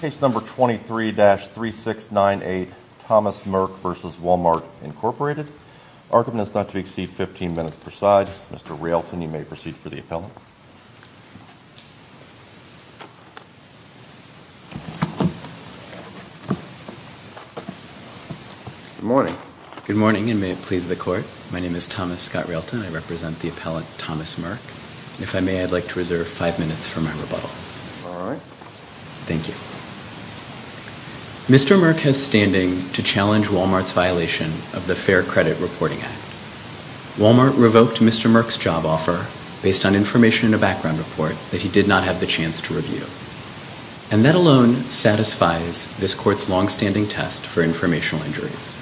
Case number 23-3698, Thomas Merck v. Walmart Inc. Argument is not to exceed 15 minutes per side. Mr. Realton, you may proceed for the appellant. Good morning. Good morning, and may it please the Court. My name is Thomas Scott Realton. I represent the appellant Thomas Merck. If I may, I'd like to reserve five minutes for my rebuttal. All right. Thank you. Mr. Merck has standing to challenge Walmart's violation of the Fair Credit Reporting Act. Walmart revoked Mr. Merck's job offer based on information in a background report that he did not have the chance to review. And that alone satisfies this Court's longstanding test for informational injuries.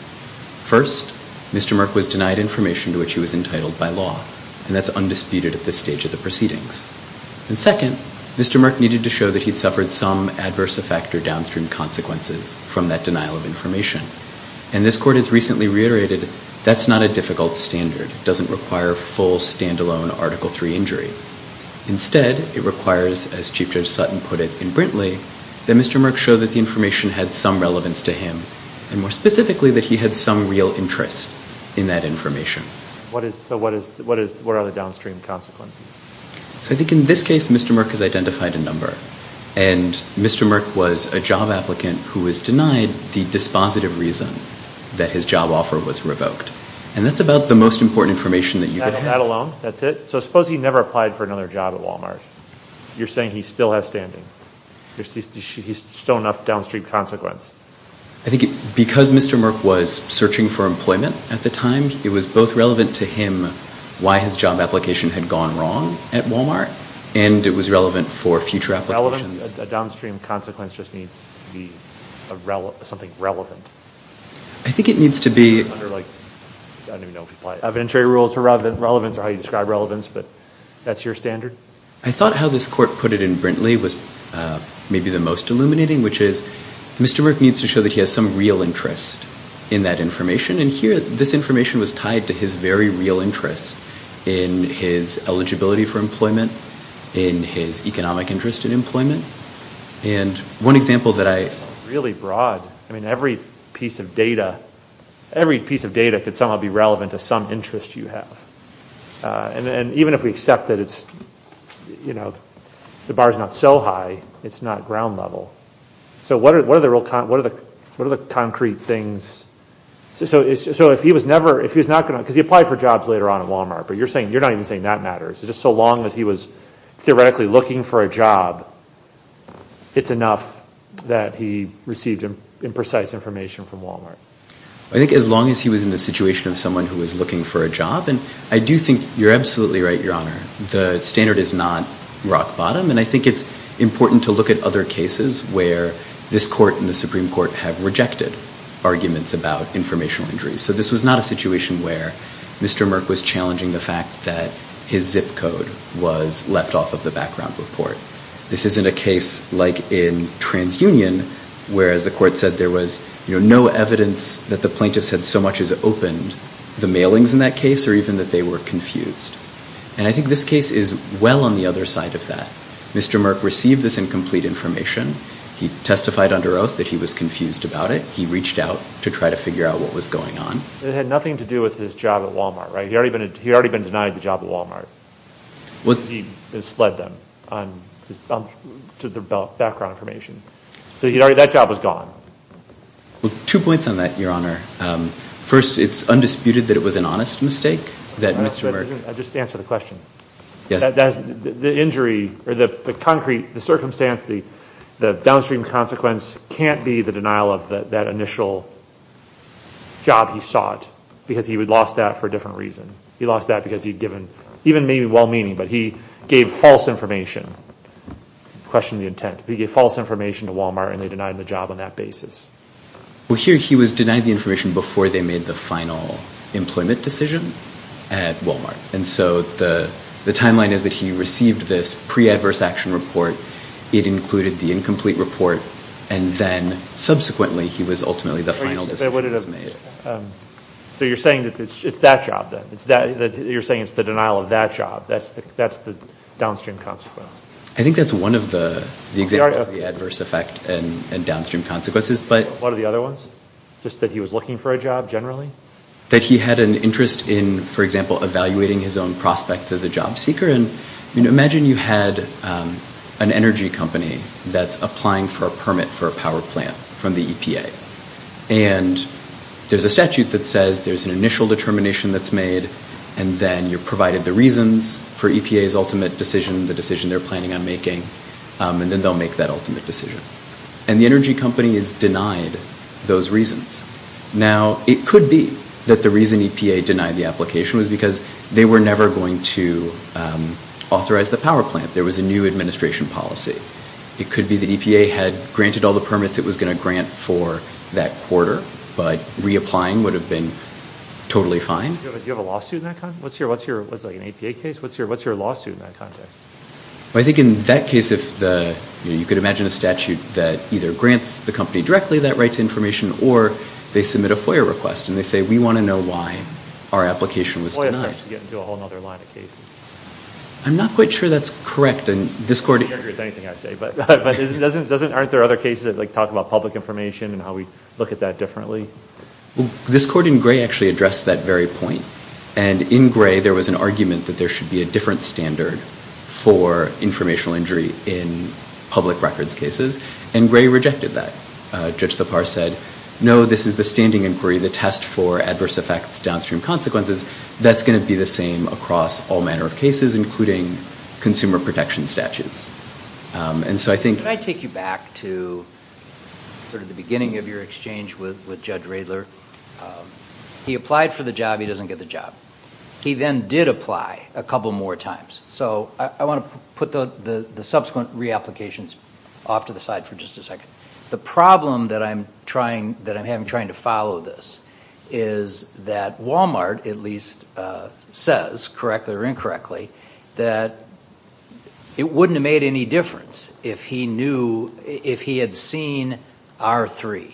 First, Mr. Merck was denied information to which he was entitled by law, and that's undisputed at this stage of the proceedings. And second, Mr. Merck needed to show that he'd suffered some adverse effect or downstream consequences from that denial of information. And this Court has recently reiterated that's not a difficult standard. It doesn't require full, standalone Article III injury. Instead, it requires, as Chief Judge Sutton put it in Brintley, that Mr. Merck show that the information had some relevance to him, and more specifically that he had some real interest in that information. So what are the downstream consequences? So I think in this case, Mr. Merck has identified a number. And Mr. Merck was a job applicant who was denied the dispositive reason that his job offer was revoked. And that's about the most important information that you could have. That alone? That's it? So suppose he never applied for another job at Walmart. You're saying he still has standing. There's still enough downstream consequence. I think because Mr. Merck was searching for employment at the time, it was both relevant to him why his job application had gone wrong at Walmart, and it was relevant for future applications. Relevance, a downstream consequence just needs to be something relevant. I think it needs to be. Under like, I don't even know if you apply it. Evidentiary rules for relevance are how you describe relevance, but that's your standard? I thought how this Court put it in Brintley was maybe the most illuminating, which is Mr. Merck needs to show that he has some real interest in that information. And here, this information was tied to his very real interest in his eligibility for employment, in his economic interest in employment. And one example that I... Really broad. I mean, every piece of data could somehow be relevant to some interest you have. And even if we accept that it's, you know, the bar's not so high, it's not ground level. So what are the concrete things? So if he was never... Because he applied for jobs later on at Walmart, but you're not even saying that matters. It's just so long as he was theoretically looking for a job, it's enough that he received imprecise information from Walmart. I think as long as he was in the situation of someone who was looking for a job, and I do think you're absolutely right, Your Honor. The standard is not rock bottom, and I think it's important to look at other cases where this Court and the Supreme Court have rejected arguments about informational injuries. So this was not a situation where Mr. Merck was challenging the fact that his zip code was left off of the background report. This isn't a case like in TransUnion, where, as the Court said, there was no evidence that the plaintiffs had so much as opened the mailings in that case or even that they were confused. And I think this case is well on the other side of that. Mr. Merck received this incomplete information. He testified under oath that he was confused about it. He reached out to try to figure out what was going on. It had nothing to do with his job at Walmart, right? He had already been denied the job at Walmart. He misled them to the background information. So that job was gone. Well, two points on that, Your Honor. First, it's undisputed that it was an honest mistake that Mr. Merck I'll just answer the question. The injury or the concrete, the circumstance, the downstream consequence can't be the denial of that initial job he sought because he lost that for a different reason. He lost that because he'd given, even maybe well-meaning, but he gave false information. Question the intent. He gave false information to Walmart and they denied him the job on that basis. Well, here he was denied the information before they made the final employment decision at Walmart. And so the timeline is that he received this pre-adverse action report. It included the incomplete report. And then subsequently he was ultimately the final decision that was made. So you're saying that it's that job then? You're saying it's the denial of that job? That's the downstream consequence? I think that's one of the examples of the adverse effect and downstream consequences. What are the other ones? Just that he was looking for a job generally? That he had an interest in, for example, evaluating his own prospects as a job seeker. Imagine you had an energy company that's applying for a permit for a power plant from the EPA. And there's a statute that says there's an initial determination that's made and then you're provided the reasons for EPA's ultimate decision, the decision they're planning on making, and then they'll make that ultimate decision. And the energy company is denied those reasons. Now, it could be that the reason EPA denied the application was because they were never going to authorize the power plant. There was a new administration policy. It could be that EPA had granted all the permits it was going to grant for that quarter. But reapplying would have been totally fine. Do you have a lawsuit in that context? What's an EPA case? What's your lawsuit in that context? I think in that case, you could imagine a statute that either grants the company directly that right to information or they submit a FOIA request and they say, we want to know why our application was denied. FOIA is actually getting into a whole other line of cases. I'm not quite sure that's correct. I don't agree with anything I say, but aren't there other cases that talk about public information and how we look at that differently? This court in gray actually addressed that very point. In gray, there was an argument that there should be a different standard for informational injury in public records cases, and gray rejected that. Judge Lepar said, no, this is the standing inquiry, the test for adverse effects, downstream consequences. That's going to be the same across all manner of cases, including consumer protection statutes. Can I take you back to the beginning of your exchange with Judge Radler? He applied for the job, he doesn't get the job. He then did apply a couple more times. I want to put the subsequent reapplications off to the side for just a second. The problem that I'm having trying to follow this is that Walmart at least says, correctly or incorrectly, that it wouldn't have made any difference if he had seen R3,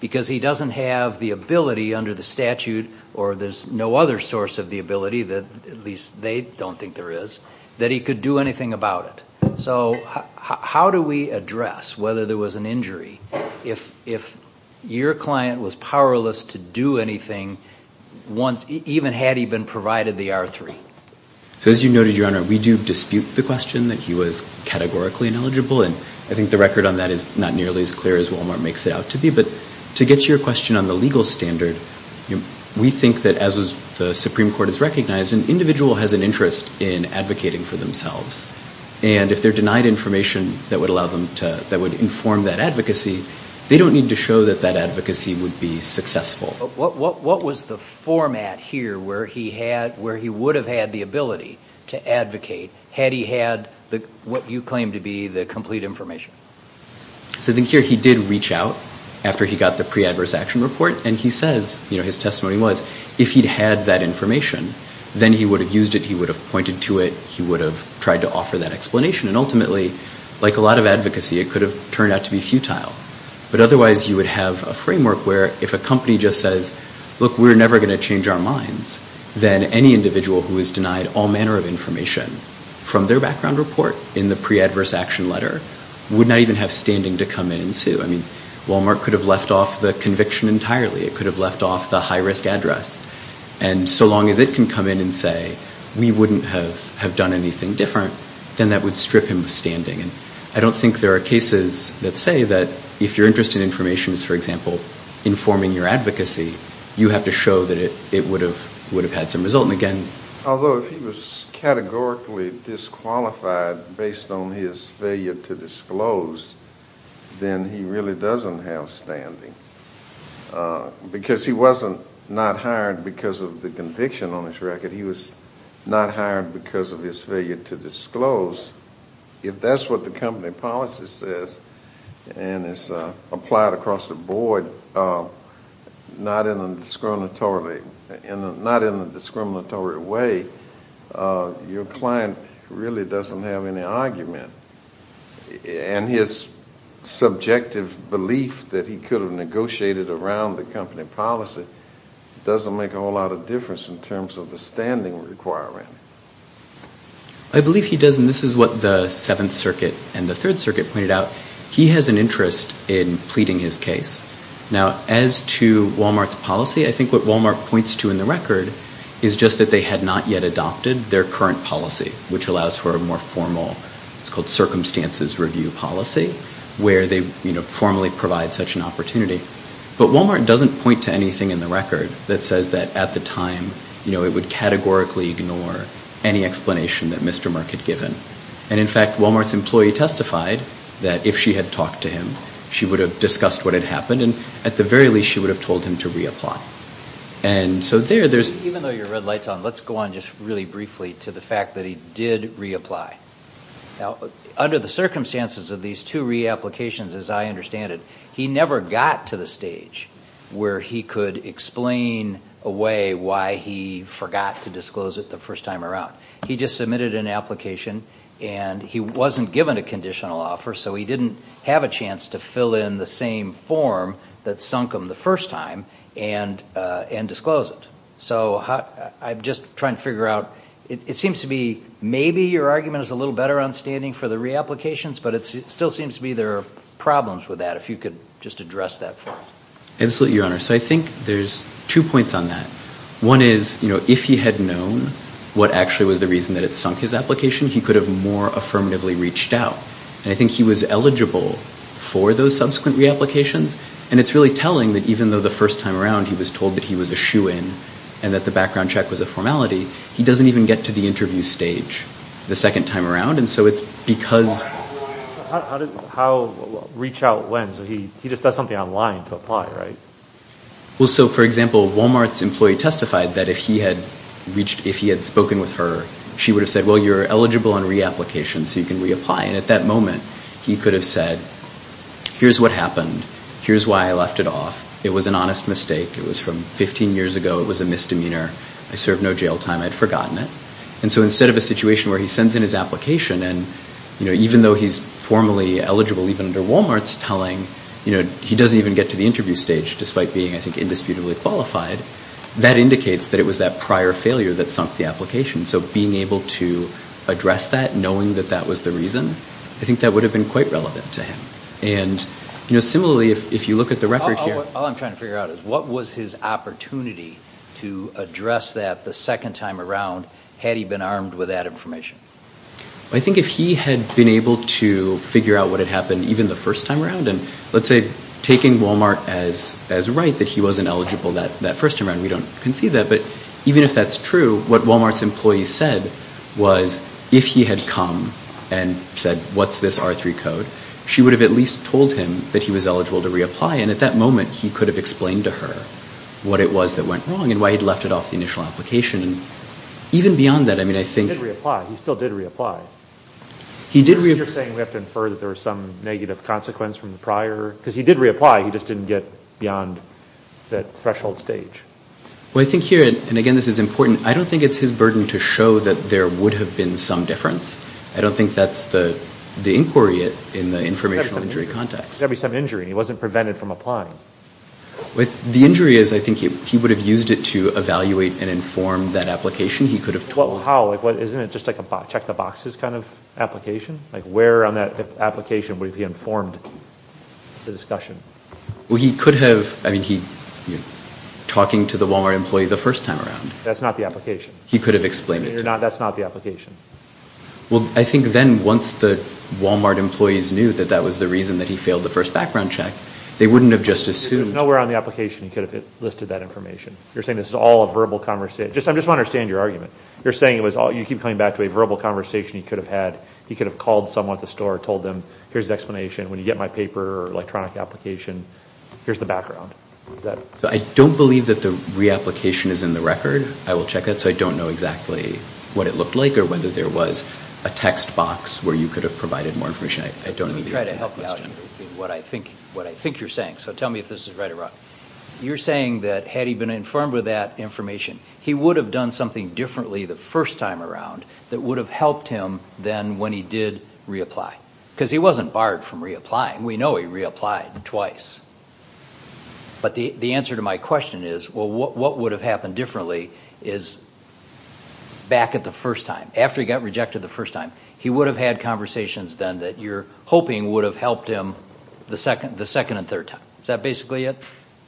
because he doesn't have the ability under the statute, or there's no other source of the ability, at least they don't think there is, that he could do anything about it. So how do we address whether there was an injury if your client was powerless to do anything, even had he been provided the R3? As you noted, Your Honor, we do dispute the question that he was categorically ineligible, and I think the record on that is not nearly as clear as Walmart makes it out to be. But to get to your question on the legal standard, we think that as the Supreme Court has recognized, an individual has an interest in advocating for themselves. And if they're denied information that would inform that advocacy, they don't need to show that that advocacy would be successful. What was the format here where he would have had the ability to advocate, had he had what you claim to be the complete information? So here he did reach out after he got the pre-adverse action report, and he says, his testimony was, if he'd had that information, then he would have used it, he would have pointed to it, he would have tried to offer that explanation. And ultimately, like a lot of advocacy, it could have turned out to be futile. But otherwise you would have a framework where if a company just says, look, we're never going to change our minds, then any individual who is denied all manner of information from their background report in the pre-adverse action letter would not even have standing to come in and sue. I mean, Walmart could have left off the conviction entirely. It could have left off the high-risk address. And so long as it can come in and say, we wouldn't have done anything different, then that would strip him of standing. And I don't think there are cases that say that if your interest in information is, for example, informing your advocacy, you have to show that it would have had some result. Although if he was categorically disqualified based on his failure to disclose, then he really doesn't have standing. Because he wasn't not hired because of the conviction on his record. He was not hired because of his failure to disclose. If that's what the company policy says and is applied across the board, not in a discriminatory way, your client really doesn't have any argument. And his subjective belief that he could have negotiated around the company policy doesn't make a whole lot of difference in terms of the standing requirement. I believe he does, and this is what the Seventh Circuit and the Third Circuit pointed out. He has an interest in pleading his case. Now, as to Walmart's policy, I think what Walmart points to in the record is just that they had not yet adopted their current policy, which allows for a more formal, it's called circumstances review policy, where they formally provide such an opportunity. But Walmart doesn't point to anything in the record that says that at the time, it would categorically ignore any explanation that Mr. Merck had given. And in fact, Walmart's employee testified that if she had talked to him, she would have discussed what had happened, and at the very least she would have told him to reapply. And so there, there's... Even though your red light's on, let's go on just really briefly to the fact that he did reapply. Now, under the circumstances of these two reapplications, as I understand it, he never got to the stage where he could explain away why he forgot to disclose it the first time around. He just submitted an application, and he wasn't given a conditional offer, so he didn't have a chance to fill in the same form that sunk him the first time and disclose it. So I'm just trying to figure out, it seems to me, maybe your argument is a little better on standing for the reapplications, but it still seems to me there are problems with that. If you could just address that for us. Absolutely, Your Honor. So I think there's two points on that. One is, if he had known what actually was the reason that it sunk his application, he could have more affirmatively reached out. And I think he was eligible for those subsequent reapplications, and it's really telling that even though the first time around he was told that he was a shoo-in and that the background check was a formality, he doesn't even get to the interview stage the second time around. And so it's because... How did, how, reach out when? So he just does something online to apply, right? Well, so, for example, Walmart's employee testified that if he had reached, if he had spoken with her, she would have said, well, you're eligible on reapplication, so you can reapply. And at that moment, he could have said, here's what happened. Here's why I left it off. It was an honest mistake. It was from 15 years ago. It was a misdemeanor. I served no jail time. I'd forgotten it. And so instead of a situation where he sends in his application, and even though he's formally eligible even under Walmart's telling, you know, he doesn't even get to the interview stage, despite being, I think, indisputably qualified, that indicates that it was that prior failure that sunk the application. So being able to address that, knowing that that was the reason, I think that would have been quite relevant to him. And, you know, similarly, if you look at the record here... All I'm trying to figure out is, what was his opportunity to address that the second time around had he been armed with that information? I think if he had been able to figure out what had happened even the first time around, and let's say taking Walmart as right, that he wasn't eligible that first time around. We don't concede that. But even if that's true, what Walmart's employee said was, if he had come and said, what's this R3 code? She would have at least told him that he was eligible to reapply. And at that moment, he could have explained to her what it was that went wrong and why he'd left it off the initial application. Even beyond that, I mean, I think... He did reapply. He still did reapply. You're saying we have to infer that there was some negative consequence from the prior... Because he did reapply. He just didn't get beyond that threshold stage. Well, I think here, and again, this is important, I don't think it's his burden to show that there would have been some difference. I don't think that's the inquiry in the informational injury context. There's got to be some injury. He wasn't prevented from applying. The injury is, I think, he would have used it to evaluate and inform that application. He could have told... How? Isn't it just like a check-the-boxes kind of application? Like, where on that application would he have informed the discussion? Well, he could have... I mean, talking to the Walmart employee the first time around. That's not the application. He could have explained it to her. That's not the application. Well, I think then, once the Walmart employees knew that that was the reason that he failed the first background check, they wouldn't have just assumed... Nowhere on the application he could have listed that information. You're saying this is all a verbal conversation. I just want to understand your argument. You're saying it was all... You keep coming back to a verbal conversation he could have had. He could have called someone at the store and told them, here's the explanation. When you get my paper or electronic application, here's the background. So I don't believe that the reapplication is in the record. I will check that. So I don't know exactly what it looked like or whether there was a text box where you could have provided more information. I don't know the answer to that question. Let me try to help you out in what I think you're saying. So tell me if this is right or wrong. You're saying that had he been informed with that information, he would have done something differently the first time around that would have helped him then when he did reapply. Because he wasn't barred from reapplying. We know he reapplied twice. But the answer to my question is, well, what would have happened differently is back at the first time, after he got rejected the first time, he would have had conversations then that you're hoping would have helped him the second and third time. Is that basically it?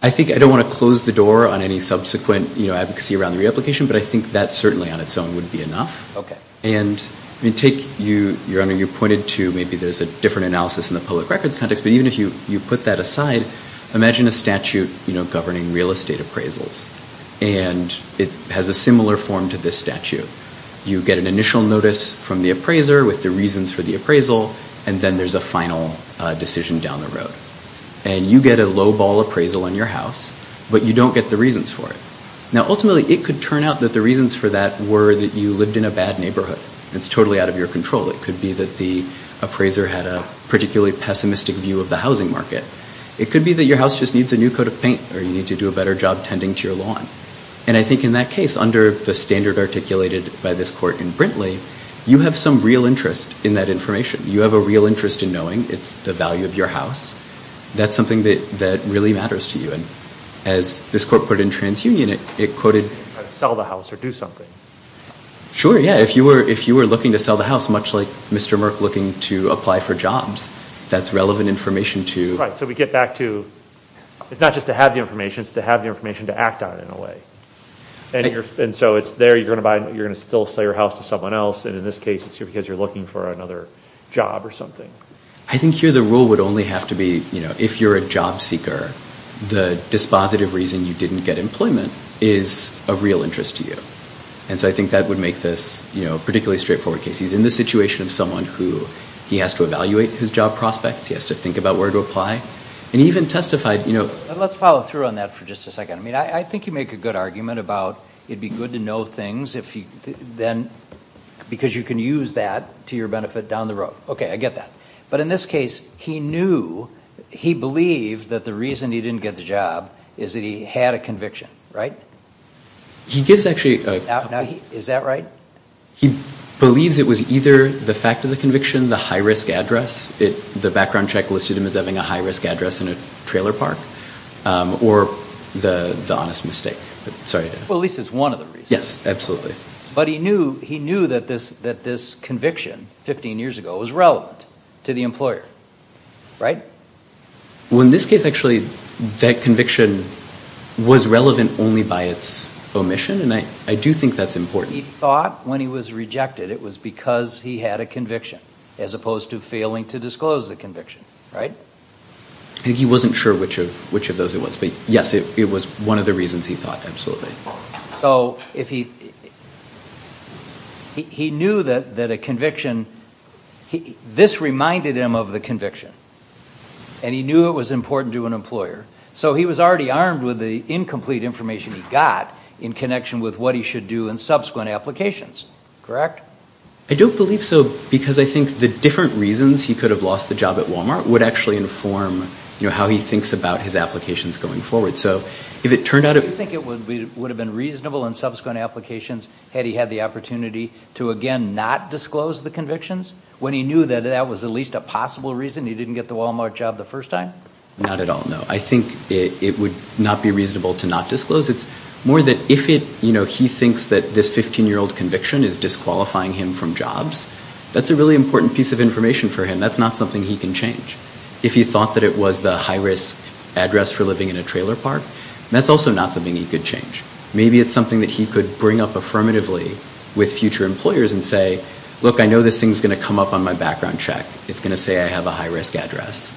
I think I don't want to close the door on any subsequent advocacy around the reapplication, but I think that certainly on its own would be enough. And you pointed to maybe there's a different analysis in the public records context, but even if you put that aside, imagine a statute governing real estate appraisals, and it has a similar form to this statute. You get an initial notice from the appraiser with the reasons for the appraisal, and then there's a final decision down the road. And you get a low-ball appraisal in your house, but you don't get the reasons for it. Now ultimately, it could turn out that the reasons for that were that you lived in a bad neighborhood. It's totally out of your control. It could be that the appraiser had a particularly pessimistic view of the housing market. It could be that your house just needs a new coat of paint or you need to do a better job tending to your lawn. And I think in that case, under the standard articulated by this court in Brintley, you have some real interest in that information. You have a real interest in knowing it's the value of your house. That's something that really matters to you. And as this court put it in TransUnion, it quoted... Sell the house or do something. Sure, yeah. If you were looking to sell the house, much like Mr. Murph looking to apply for jobs, that's relevant information to... Right, so we get back to... It's not just to have the information, it's to have the information to act on it in a way. And so it's there, you're going to still sell your house to someone else, and in this case, it's because you're looking for another job or something. I think here the rule would only have to be, you know, if you're a job seeker, the dispositive reason you didn't get employment is of real interest to you. And so I think that would make this, you know, a particularly straightforward case. He's in the situation of someone who, he has to evaluate his job prospects, he has to think about where to apply, and he even testified, you know... Let's follow through on that for just a second. I mean, I think you make a good argument about it'd be good to know things if you... then... because you can use that to your benefit down the road. Okay, I get that. But in this case, he knew, he believed that the reason he didn't get the job is that he had a conviction, right? He gives actually... Now, is that right? He believes it was either the fact of the conviction, the high-risk address, the background check listed him as having a high-risk address in a trailer park, or the honest mistake. Sorry to... Well, at least it's one of the reasons. Yes, absolutely. But he knew that this conviction, 15 years ago, was relevant to the employer, right? Well, in this case, actually, that conviction was relevant only by its omission, and I do think that's important. He thought, when he was rejected, it was because he had a conviction, as opposed to failing to disclose the conviction, right? He wasn't sure which of those it was, but yes, it was one of the reasons he thought, absolutely. So, if he... He knew that a conviction... This reminded him of the conviction, and he knew it was important to an employer, so he was already armed with the incomplete information he got in connection with what he should do in subsequent applications. Correct? I don't believe so, because I think the different reasons he could have lost the job at Walmart would actually inform, you know, how he thinks about his applications going forward. So, if it turned out... Do you think it would have been reasonable in subsequent applications had he had the opportunity to, again, not disclose the convictions, when he knew that that was at least a possible reason he didn't get the Walmart job the first time? Not at all, no. I think it would not be reasonable to not disclose. It's more that if it... You know, he thinks that this 15-year-old conviction is disqualifying him from jobs, that's a really important piece of information for him. That's not something he can change. If he thought that it was the high-risk address for living in a trailer park, that's also not something he could change. Maybe it's something that he could bring up affirmatively with future employers and say, look, I know this thing's going to come up on my background check. It's going to say I have a high-risk address.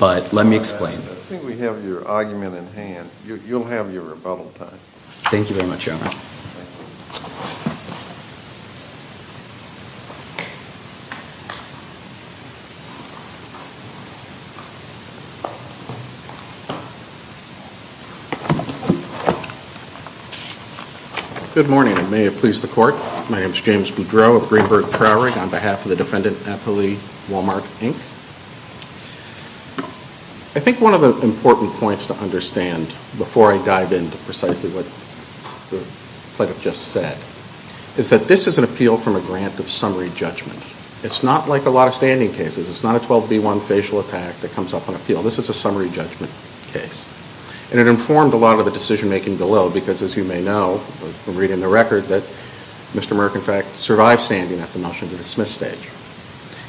But, let me explain. I think we have your argument in hand. You'll have your rebuttal time. Thank you very much, Your Honor. Thank you. Good morning, and may it please the Court. My name's James Boudreau of Greenberg Trowering on behalf of the Defendant Appealee, Walmart, Inc. I think one of the important points to understand before I dive into precisely what the Plaintiff just said is that this is an appeal from a grant of summary judgment. It's not like a lot of standing cases. It's not a 12B1 facial attack that comes up on appeal. This is a summary judgment case. And it informed a lot of the decision-making below because, as you may know from reading the record, that Mr. Merk, in fact, survived standing at the motion-to-dismiss stage.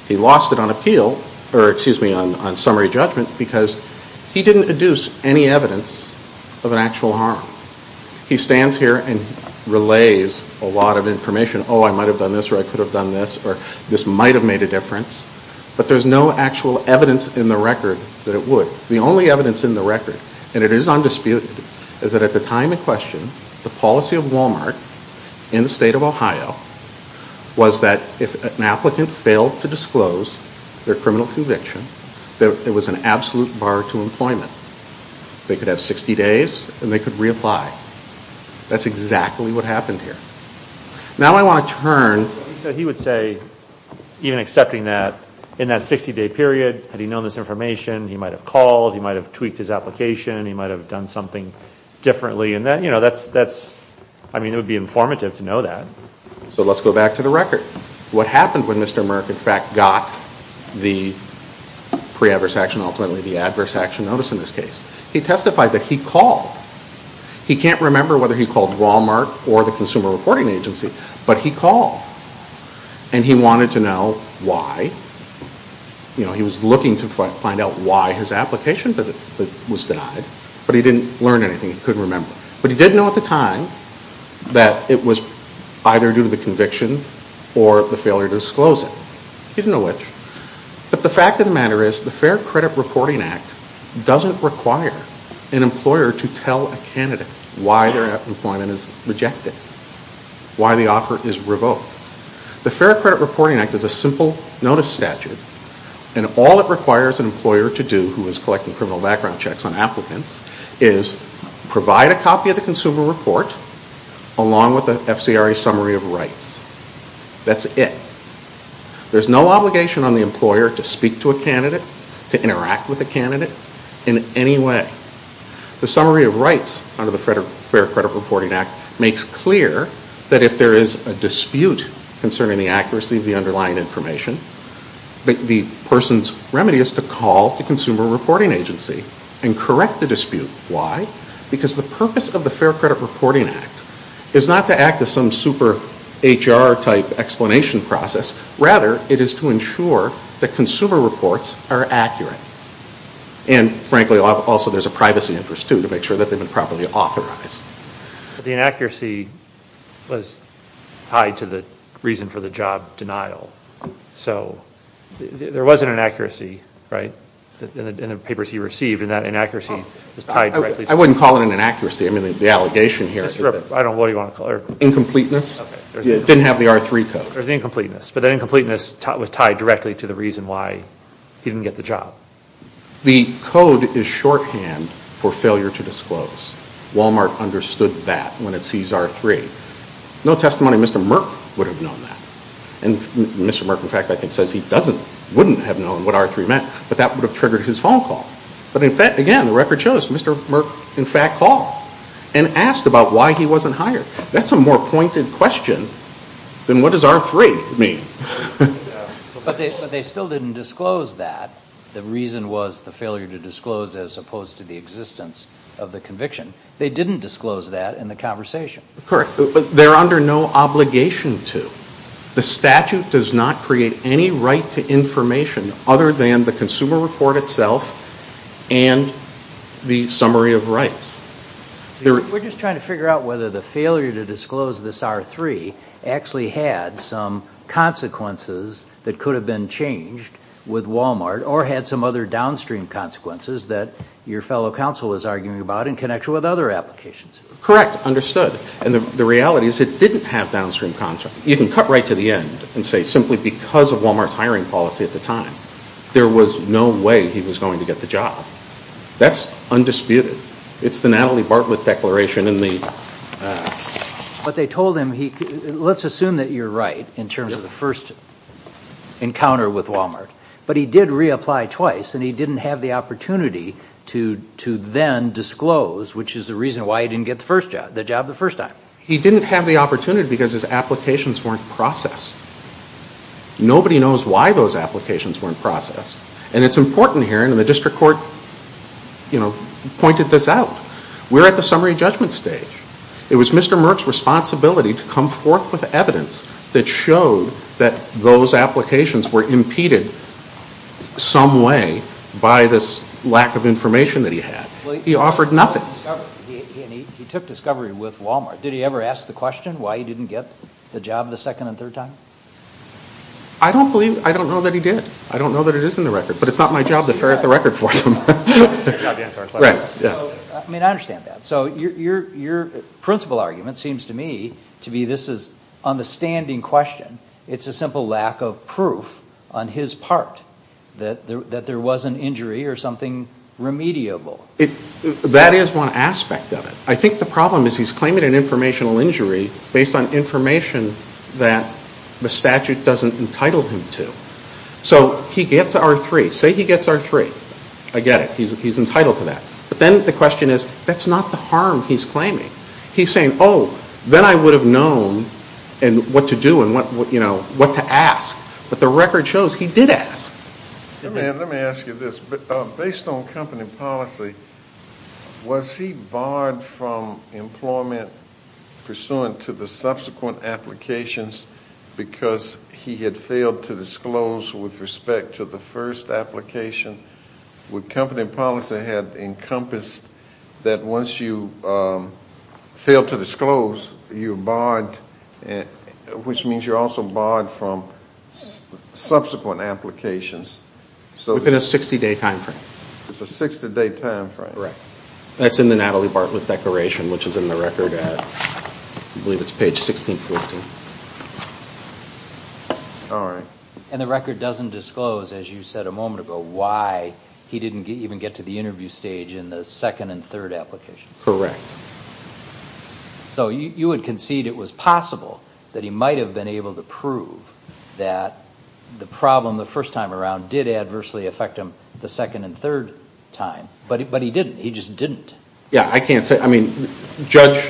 He lost it on appeal, or excuse me, on summary judgment because he didn't deduce any evidence of an actual harm. He stands here and relays a lot of information. Oh, I might have done this, or I could have done this, or this might have made a difference. But there's no actual evidence in the record that it would. The only evidence in the record, and it is undisputed, is that at the time in question, the policy of Walmart in the state of Ohio was that if an applicant failed to disclose their criminal conviction, there was an absolute bar to employment. They could have 60 days, and they could reapply. That's exactly what happened here. Now I want to turn... So he would say, even accepting that, in that 60-day period, had he known this information, he might have called, he might have tweaked his application, he might have done something differently. I mean, it would be informative to know that. So let's go back to the record. What happened when Mr. Merck, in fact, got the pre-adverse action, ultimately the adverse action notice in this case? He testified that he called. He can't remember whether he called Walmart or the Consumer Reporting Agency, but he called. And he wanted to know why. You know, he was looking to find out why his application was denied, but he didn't learn anything, he couldn't remember. But he did know at the time that it was either due to the conviction or the failure to disclose it. He didn't know which. But the fact of the matter is, the Fair Credit Reporting Act doesn't require an employer to tell a candidate why their employment is rejected, why the offer is revoked. The Fair Credit Reporting Act is a simple notice statute, and all it requires an employer to do, who is collecting criminal background checks on applicants, is provide a copy of the consumer report along with the FCRA summary of rights. That's it. There's no obligation on the employer to speak to a candidate, to interact with a candidate, in any way. The summary of rights under the Fair Credit Reporting Act makes clear that if there is a dispute concerning the accuracy of the underlying information, the person's remedy is to call the consumer reporting agency and correct the dispute. Why? Because the purpose of the Fair Credit Reporting Act is not to act as some super HR-type explanation process. Rather, it is to ensure that consumer reports are accurate. And frankly, also there's a privacy interest, too, to make sure that they've been properly authorized. The inaccuracy was tied to the reason for the job denial. So there was an inaccuracy, right, in the papers he received, and that inaccuracy was tied directly to... I wouldn't call it an inaccuracy. I mean, the allegation here... I don't know what you want to call it. Incompleteness. It didn't have the R3 code. There's incompleteness, but that incompleteness was tied directly to the reason why he didn't get the job. The code is shorthand for failure to disclose. Walmart understood that when it sees R3. No testimony of Mr. Merck would have known that. And Mr. Merck, in fact, I think says he doesn't, wouldn't have known what R3 meant, but that would have triggered his phone call. But again, the record shows Mr. Merck, in fact, called and asked about why he wasn't hired. That's a more pointed question than what does R3 mean. But they still didn't disclose that. The reason was the failure to disclose as opposed to the existence of the conviction. They didn't disclose that in the conversation. Correct. They're under no obligation to. The statute does not create any right to information other than the consumer report itself and the summary of rights. We're just trying to figure out whether the failure to disclose this R3 actually had some consequences that could have been changed with Walmart or had some other downstream consequences that your fellow counsel is arguing about in connection with other applications. Correct. Understood. And the reality is it didn't have downstream consequences. You can cut right to the end and say simply because of Walmart's hiring policy at the time, there was no way he was going to get the job. That's undisputed. It's the Natalie Bartlett declaration in the... But they told him, let's assume that you're right in terms of the first encounter with Walmart, but he did reapply twice and he didn't have the opportunity to then disclose, which is the reason why he didn't get the job the first time. He didn't have the opportunity because his applications weren't processed. Nobody knows why those applications weren't processed. And it's important here, and the district court pointed this out, we're at the summary judgment stage. It was Mr. Merck's responsibility to come forth with evidence that showed that those applications were impeded some way by this lack of information that he had. He offered nothing. He took discovery with Walmart. Did he ever ask the question why he didn't get the job the second and third time? I don't know that he did. I don't know that it is in the record, but it's not my job to ferret the record for him. I mean, I understand that. So your principal argument seems to me to be this is an understanding question. It's a simple lack of proof on his part that there was an injury or something remediable. That is one aspect of it. I think the problem is he's claiming an informational injury based on information that the statute doesn't entitle him to. So he gets R-3. Say he gets R-3. I get it. He's entitled to that. But then the question is that's not the harm he's claiming. He's saying, oh, then I would have known what to do and what to ask. But the record shows he did ask. Let me ask you this. Based on company policy, was he barred from employment pursuant to the subsequent applications because he had failed to disclose with respect to the first application? Would company policy have encompassed that once you fail to disclose, you're barred, which means you're also barred from subsequent applications? Within a 60-day time frame. It's a 60-day time frame. Correct. That's in the Natalie Bartlett Declaration, which is in the record at, I believe it's page 1614. All right. And the record doesn't disclose, as you said a moment ago, why he didn't even get to the interview stage in the second and third applications. Correct. So you would concede it was possible that he might have been able to prove that the problem the first time around did adversely affect him the second and third time. But he didn't. He just didn't. Yeah, I can't say. I mean, Judge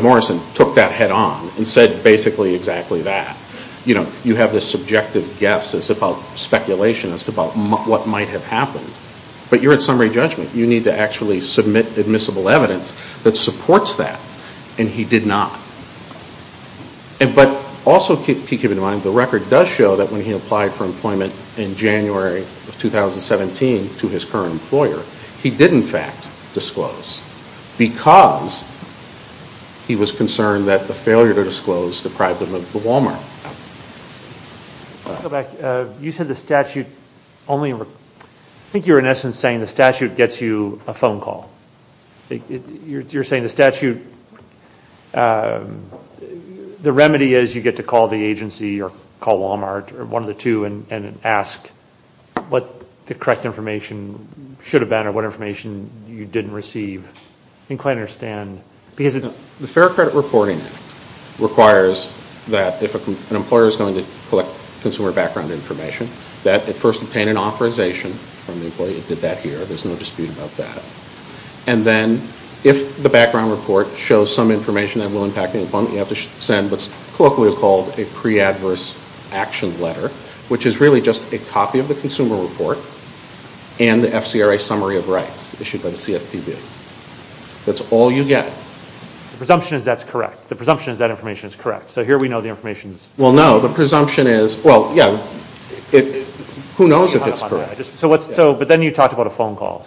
Morrison took that head on and said basically exactly that. You know, you have this subjective guess as about speculation as to what might have happened. But you're in summary judgment. You need to actually submit admissible evidence that supports that. And he did not. But also keep in mind, the record does show that when he applied for employment in January of 2017 to his current employer, he did in fact disclose because he was concerned that the failure to disclose deprived him of the Walmart. Go back. You said the statute only... I think you were in essence saying the statute gets you a phone call. You're saying the statute... The remedy is you get to call the agency or call Walmart or one of the two and ask what the correct information should have been or what information you didn't receive. I can't quite understand. Because it's... The Fair Credit Reporting Act requires that if an employer is going to collect consumer background information that it first obtain an authorization from the employee. It did that here. There's no dispute about that. And then if the background report shows some information that will impact the employment, you have to send what's colloquially called a pre-adverse action letter, which is really just a copy of the consumer report and the FCRA summary of rights issued by the CFPB. That's all you get. The presumption is that's correct. The presumption is that information is correct. So here we know the information is... Well, no. The presumption is... Well, yeah. Who knows if it's correct? But then you talked about a phone call.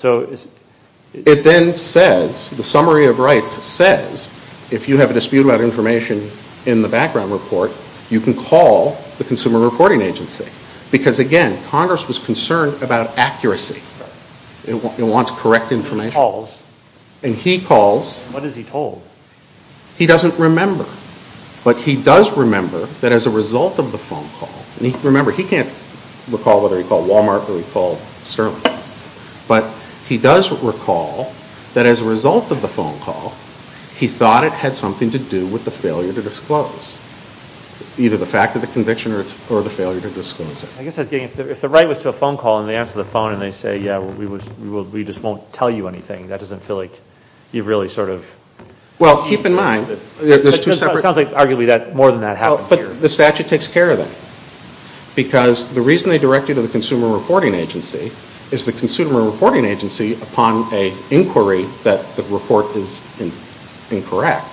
It then says, the summary of rights says if you have a dispute about information in the background report, you can call the Consumer Reporting Agency. Because, again, Congress was concerned about accuracy. It wants correct information. And he calls... What is he told? He doesn't remember. But he does remember that as a result of the phone call... And remember, he can't recall whether he called Walmart or he called Sterling. But he does recall that as a result of the phone call, he thought it had something to do with the failure to disclose. Either the fact of the conviction or the failure to disclose it. I guess I was getting... If the right was to a phone call and they answer the phone and they say, yeah, we just won't tell you anything, that doesn't feel like you've really sort of... Well, keep in mind... It sounds like, arguably, more than that happened here. But the statute takes care of that. Because the reason they direct you to the Consumer Reporting Agency is the Consumer Reporting Agency, upon an inquiry that the report is incorrect,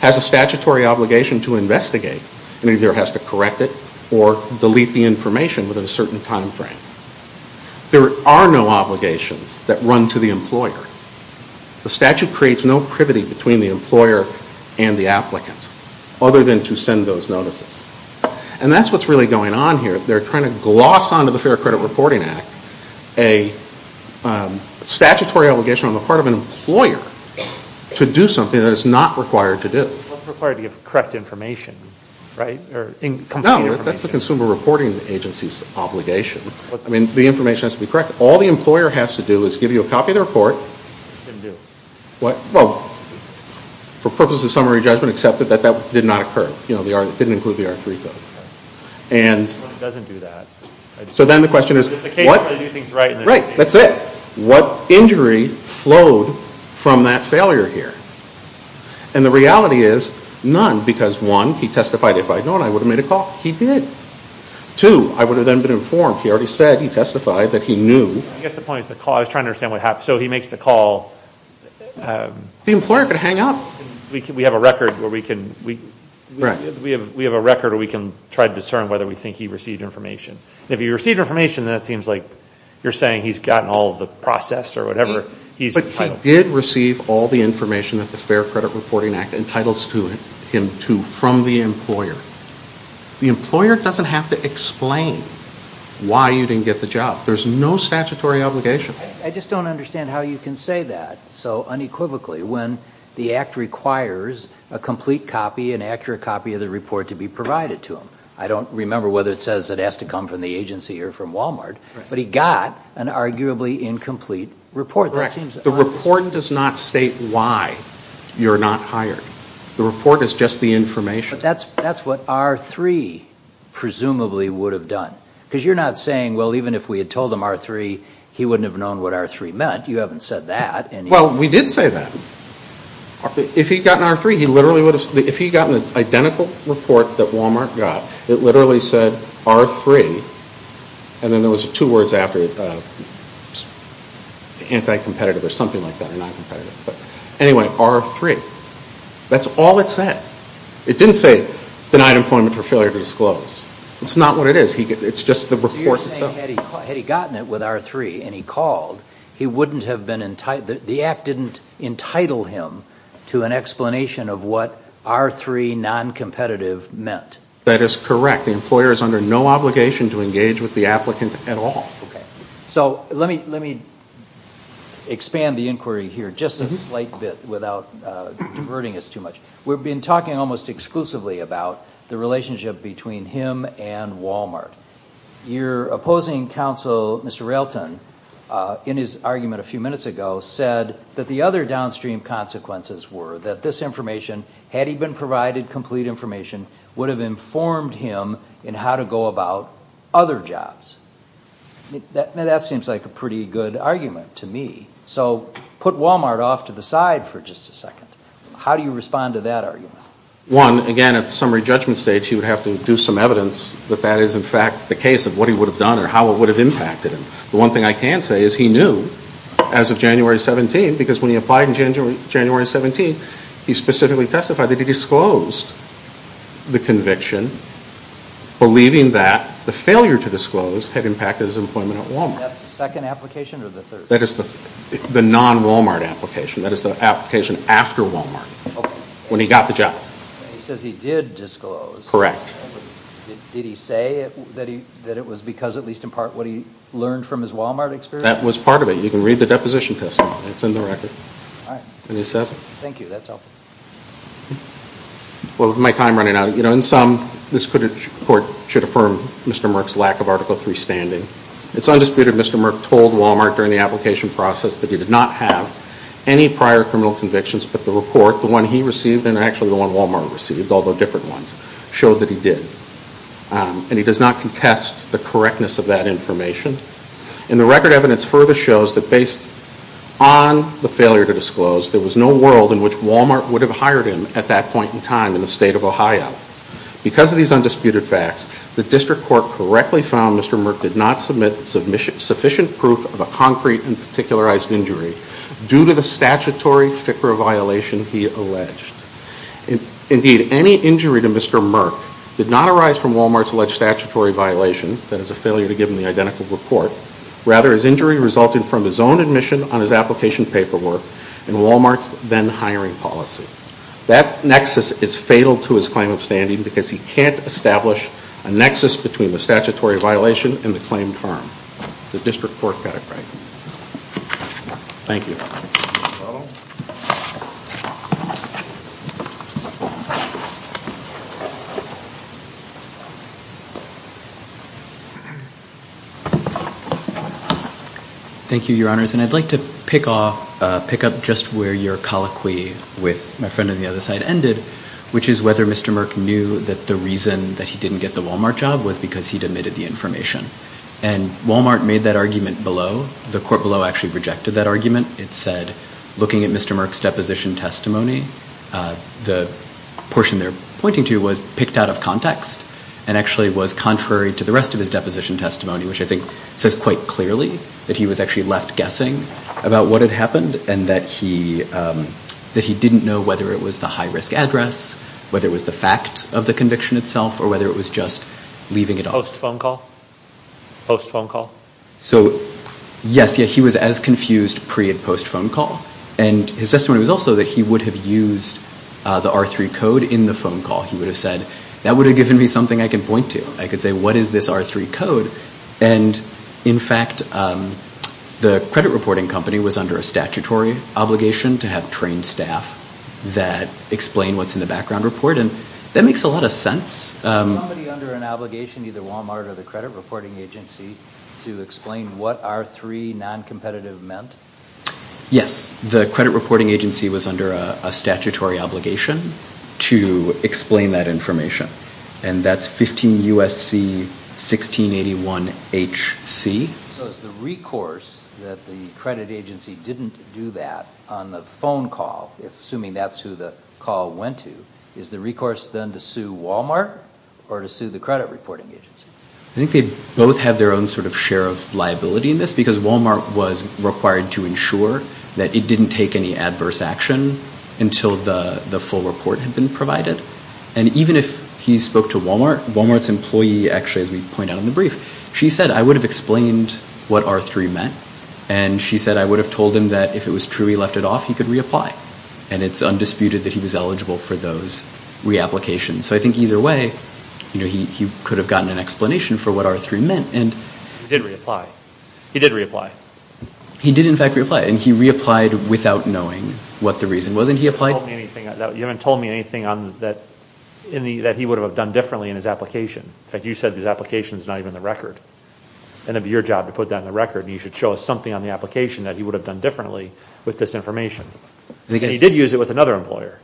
has a statutory obligation to investigate and either has to correct it or delete the information within a certain time frame. There are no obligations that run to the employer. The statute creates no privity between the employer and the applicant other than to send those notices. And that's what's really going on here. They're trying to gloss onto the Fair Credit Reporting Act a statutory obligation on the part of an employer to do something that it's not required to do. It's not required to give correct information. No, that's the Consumer Reporting Agency's obligation. I mean, the information has to be correct. All the employer has to do is give you a copy of the report... It didn't do. What? Well, for purposes of summary judgment, accept that that did not occur. It didn't include the R3 code. It doesn't do that. So then the question is, Right, that's it. What injury flowed from that failure here? And the reality is none because one, he testified, if I had known, I would have made a call. He did. Two, I would have then been informed. He already said, he testified that he knew. I guess the point is the call... I was trying to understand what happened. So he makes the call... The employer could hang up. We have a record where we can... Right. We have a record where we can try to discern whether we think he received information. And if he received information, then it seems like you're saying he's gotten all of the process or whatever. But he did receive all the information that the Fair Credit Reporting Act entitles him to from the employer. The employer doesn't have to explain why you didn't get the job. There's no statutory obligation. I just don't understand how you can say that so unequivocally when the act requires a complete copy, an accurate copy, of the report to be provided to him. I don't remember whether it says it has to come from the agency or from Walmart, but he got an arguably incomplete report. Correct. The report does not state why you're not hired. The report is just the information. But that's what R3 presumably would have done. Because you're not saying, well, even if we had told him R3, he wouldn't have known what R3 meant. You haven't said that. Well, we did say that. If he'd gotten R3, he literally would have... If he'd gotten the identical report that Walmart got, it literally said R3, and then there was two words after it, anti-competitive or something like that, or non-competitive. But anyway, R3. That's all it said. It didn't say denied employment for failure to disclose. That's not what it is. It's just the report itself. You're saying had he gotten it with R3 and he called, he wouldn't have been entitled... The act didn't entitle him to an explanation of what R3 non-competitive meant. That is correct. The employer is under no obligation to engage with the applicant at all. Let me expand the inquiry here just a slight bit without diverting us too much. We've been talking almost exclusively about the relationship between him and Walmart. Your opposing counsel, Mr. Railton, in his argument a few minutes ago, said that the other downstream consequences were that this information, had he been provided complete information, would have informed him in how to go about other jobs. That seems like a pretty good argument to me. So put Walmart off to the side for just a second. How do you respond to that argument? One, again, at the summary judgment stage, he would have to do some evidence that that is in fact the case of what he would have done or how it would have impacted him. The one thing I can say is he knew as of January 17, because when he applied in January 17, he specifically testified that he disclosed the conviction believing that the failure to disclose had impacted his employment at Walmart. That's the second application or the third? That is the non-Walmart application. That is the application after Walmart, when he got the job. He says he did disclose. Correct. Did he say that it was because, at least in part, what he learned from his Walmart experience? That was part of it. You can read the deposition testimony. It's in the record. All right. Thank you. That's helpful. Well, with my time running out, in sum, this report should affirm Mr. Merck's lack of Article III standing. It's undisputed Mr. Merck told Walmart during the application process that he did not have any prior criminal convictions, but the report, the one he received and actually the one Walmart received, although different ones, showed that he did. And he does not contest the correctness of that information. And the record evidence further shows that based on the failure to disclose, there was no world in which Walmart would have hired him at that point in time in the state of Ohio. Because of these undisputed facts, the district court correctly found Mr. Merck did not submit sufficient proof of a concrete and particularized injury due to the statutory FICRA violation he alleged. Indeed, any injury to Mr. Merck did not arise from Walmart's alleged statutory violation, that is a failure to give him the identical report. Rather, his injury resulted from his own admission on his application paperwork and Walmart's then hiring policy. That nexus is fatal to his claim of standing because he can't establish a nexus between the statutory violation and the claimed harm. The district court got it right. Thank you. Thank you, your honors. And I'd like to pick up just where your colloquy with my friend on the other side ended, which is whether Mr. Merck knew that the reason that he didn't get the Walmart job was because he'd admitted the information. And Walmart made that argument below. The court below actually rejected that argument. It said, looking at Mr. Merck's deposition testimony, the portion they're pointing to was picked out of context and actually was contrary to the rest of his deposition testimony, which I think says quite clearly that he was actually left guessing about what had happened and that he didn't know whether it was the high-risk address, whether it was the fact of the conviction itself, or whether it was just leaving it all. Post-phone call? Post-phone call? So, yes. Yeah, he was as confused pre- and post-phone call. And his testimony was also that he would have used the R3 code in the phone call. He would have said, that would have given me something I can point to. I could say, what is this R3 code? And, in fact, the credit reporting company was under a statutory obligation to have trained staff that explain what's in the background report. And that makes a lot of sense. Was somebody under an obligation, either Walmart or the credit reporting agency, to explain what R3 non-competitive meant? Yes. The credit reporting agency was under a statutory obligation to explain that information. And that's 15 U.S.C. 1681H.C. So it's the recourse that the credit agency didn't do that on the phone call, assuming that's who the call went to. Is the recourse then to sue Walmart or to sue the credit reporting agency? I think they both have their own sort of share of liability in this because Walmart was required to ensure that it didn't take any adverse action until the full report had been provided. And even if he spoke to Walmart, Walmart's employee actually, as we point out in the brief, she said, I would have explained what R3 meant. And she said, I would have told him that if it was true he left it off, he could reapply. And it's undisputed that he was eligible for those reapplications. So I think either way, he could have gotten an explanation for what R3 meant. He did reapply. He did reapply. He did, in fact, reapply. And he reapplied without knowing what the reason was. You haven't told me anything that he would have done differently in his application. In fact, you said his application is not even the record. And it would be your job to put that in the record. And you should show us something on the application that he would have done differently with this information. And he did use it with another employer.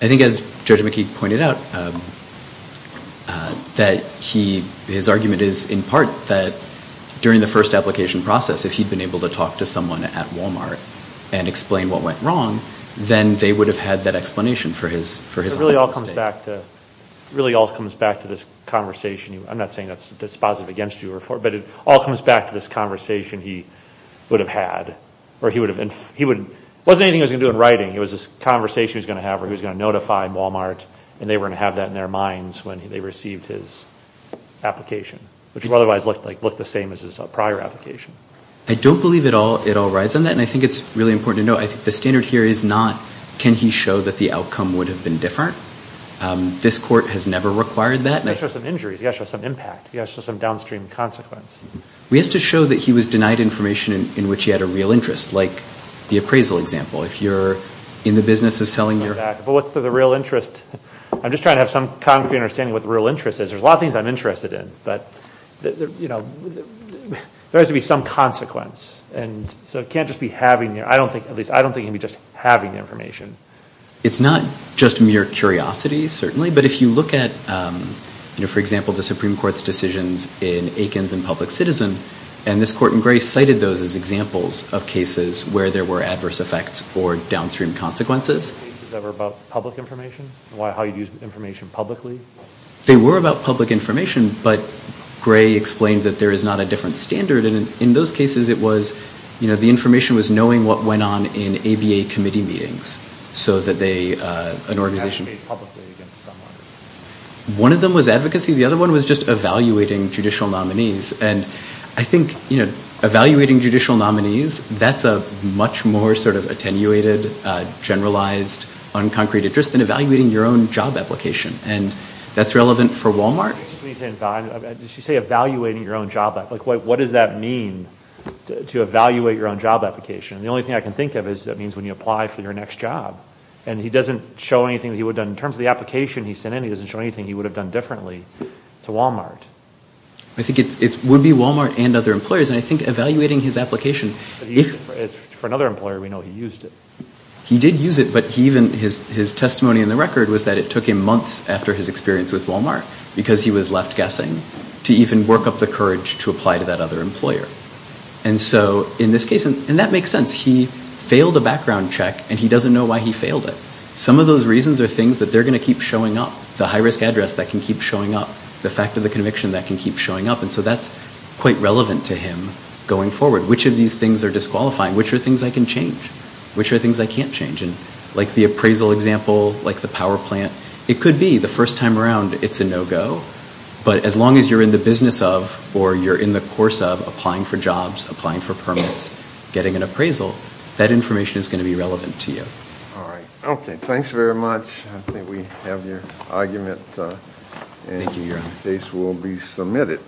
I think as Judge McKeague pointed out, that his argument is in part that during the first application process, if he'd been able to talk to someone at Walmart and explain what went wrong, then they would have had that explanation for his false mistake. It really all comes back to this conversation. I'm not saying that's positive against you. But it all comes back to this conversation he would have had. Or he would have... It wasn't anything he was going to do in writing. It was this conversation he was going to have where he was going to notify Walmart. And they were going to have that in their minds when they received his application, which would otherwise look the same as his prior application. I don't believe it all rides on that. And I think it's really important to note I think the standard here is not can he show that the outcome would have been different. This court has never required that. He has to show some injuries. He has to show some impact. He has to show some downstream consequence. He has to show that he was denied information in which he had a real interest, like the appraisal example. If you're in the business of selling your... But what's the real interest? I'm just trying to have some concrete understanding of what the real interest is. There's a lot of things I'm interested in. But there has to be some consequence. And so it can't just be having... I don't think he can be just having information. It's not just mere curiosity, certainly. But if you look at, for example, the Supreme Court's decisions in Aikens and Public Citizen, and this court in Gray cited those as examples of cases where there were adverse effects or downstream consequences. They were about public information? How you'd use information publicly? They were about public information, but Gray explained that there is not a different standard. And in those cases, it was... The information was knowing what went on in ABA committee meetings so that they... One of them was advocacy. The other one was just evaluating judicial nominees. And I think evaluating judicial nominees, that's a much more attenuated, generalized, unconcrete interest than evaluating your own job application. And that's relevant for Walmart? You say evaluating your own job. What does that mean to evaluate your own job application? The only thing I can think of is that means when you apply for your next job. And he doesn't show anything that he would've done... In terms of the application he sent in, he doesn't show anything he would've done differently to Walmart. I think it would be Walmart and other employers. And I think evaluating his application... For another employer, we know he used it. He did use it, but even his testimony in the record was that it took him months after his experience with Walmart because he was left guessing to even work up the courage to apply to that other employer. And so in this case... And that makes sense. He failed a background check, and he doesn't know why he failed it. Some of those reasons are things that they're going to keep showing up. The high-risk address that can keep showing up. The fact of the conviction that can keep showing up. And so that's quite relevant to him going forward. Which of these things are disqualifying? Which are things I can change? Which are things I can't change? Like the appraisal example, like the power plant. It could be the first time around, it's a no-go. But as long as you're in the business of or you're in the course of applying for jobs, applying for permits, getting an appraisal, that information is going to be relevant to you. All right. Okay, thanks very much. I think we have your argument. Thank you, Your Honor. And the case will be submitted.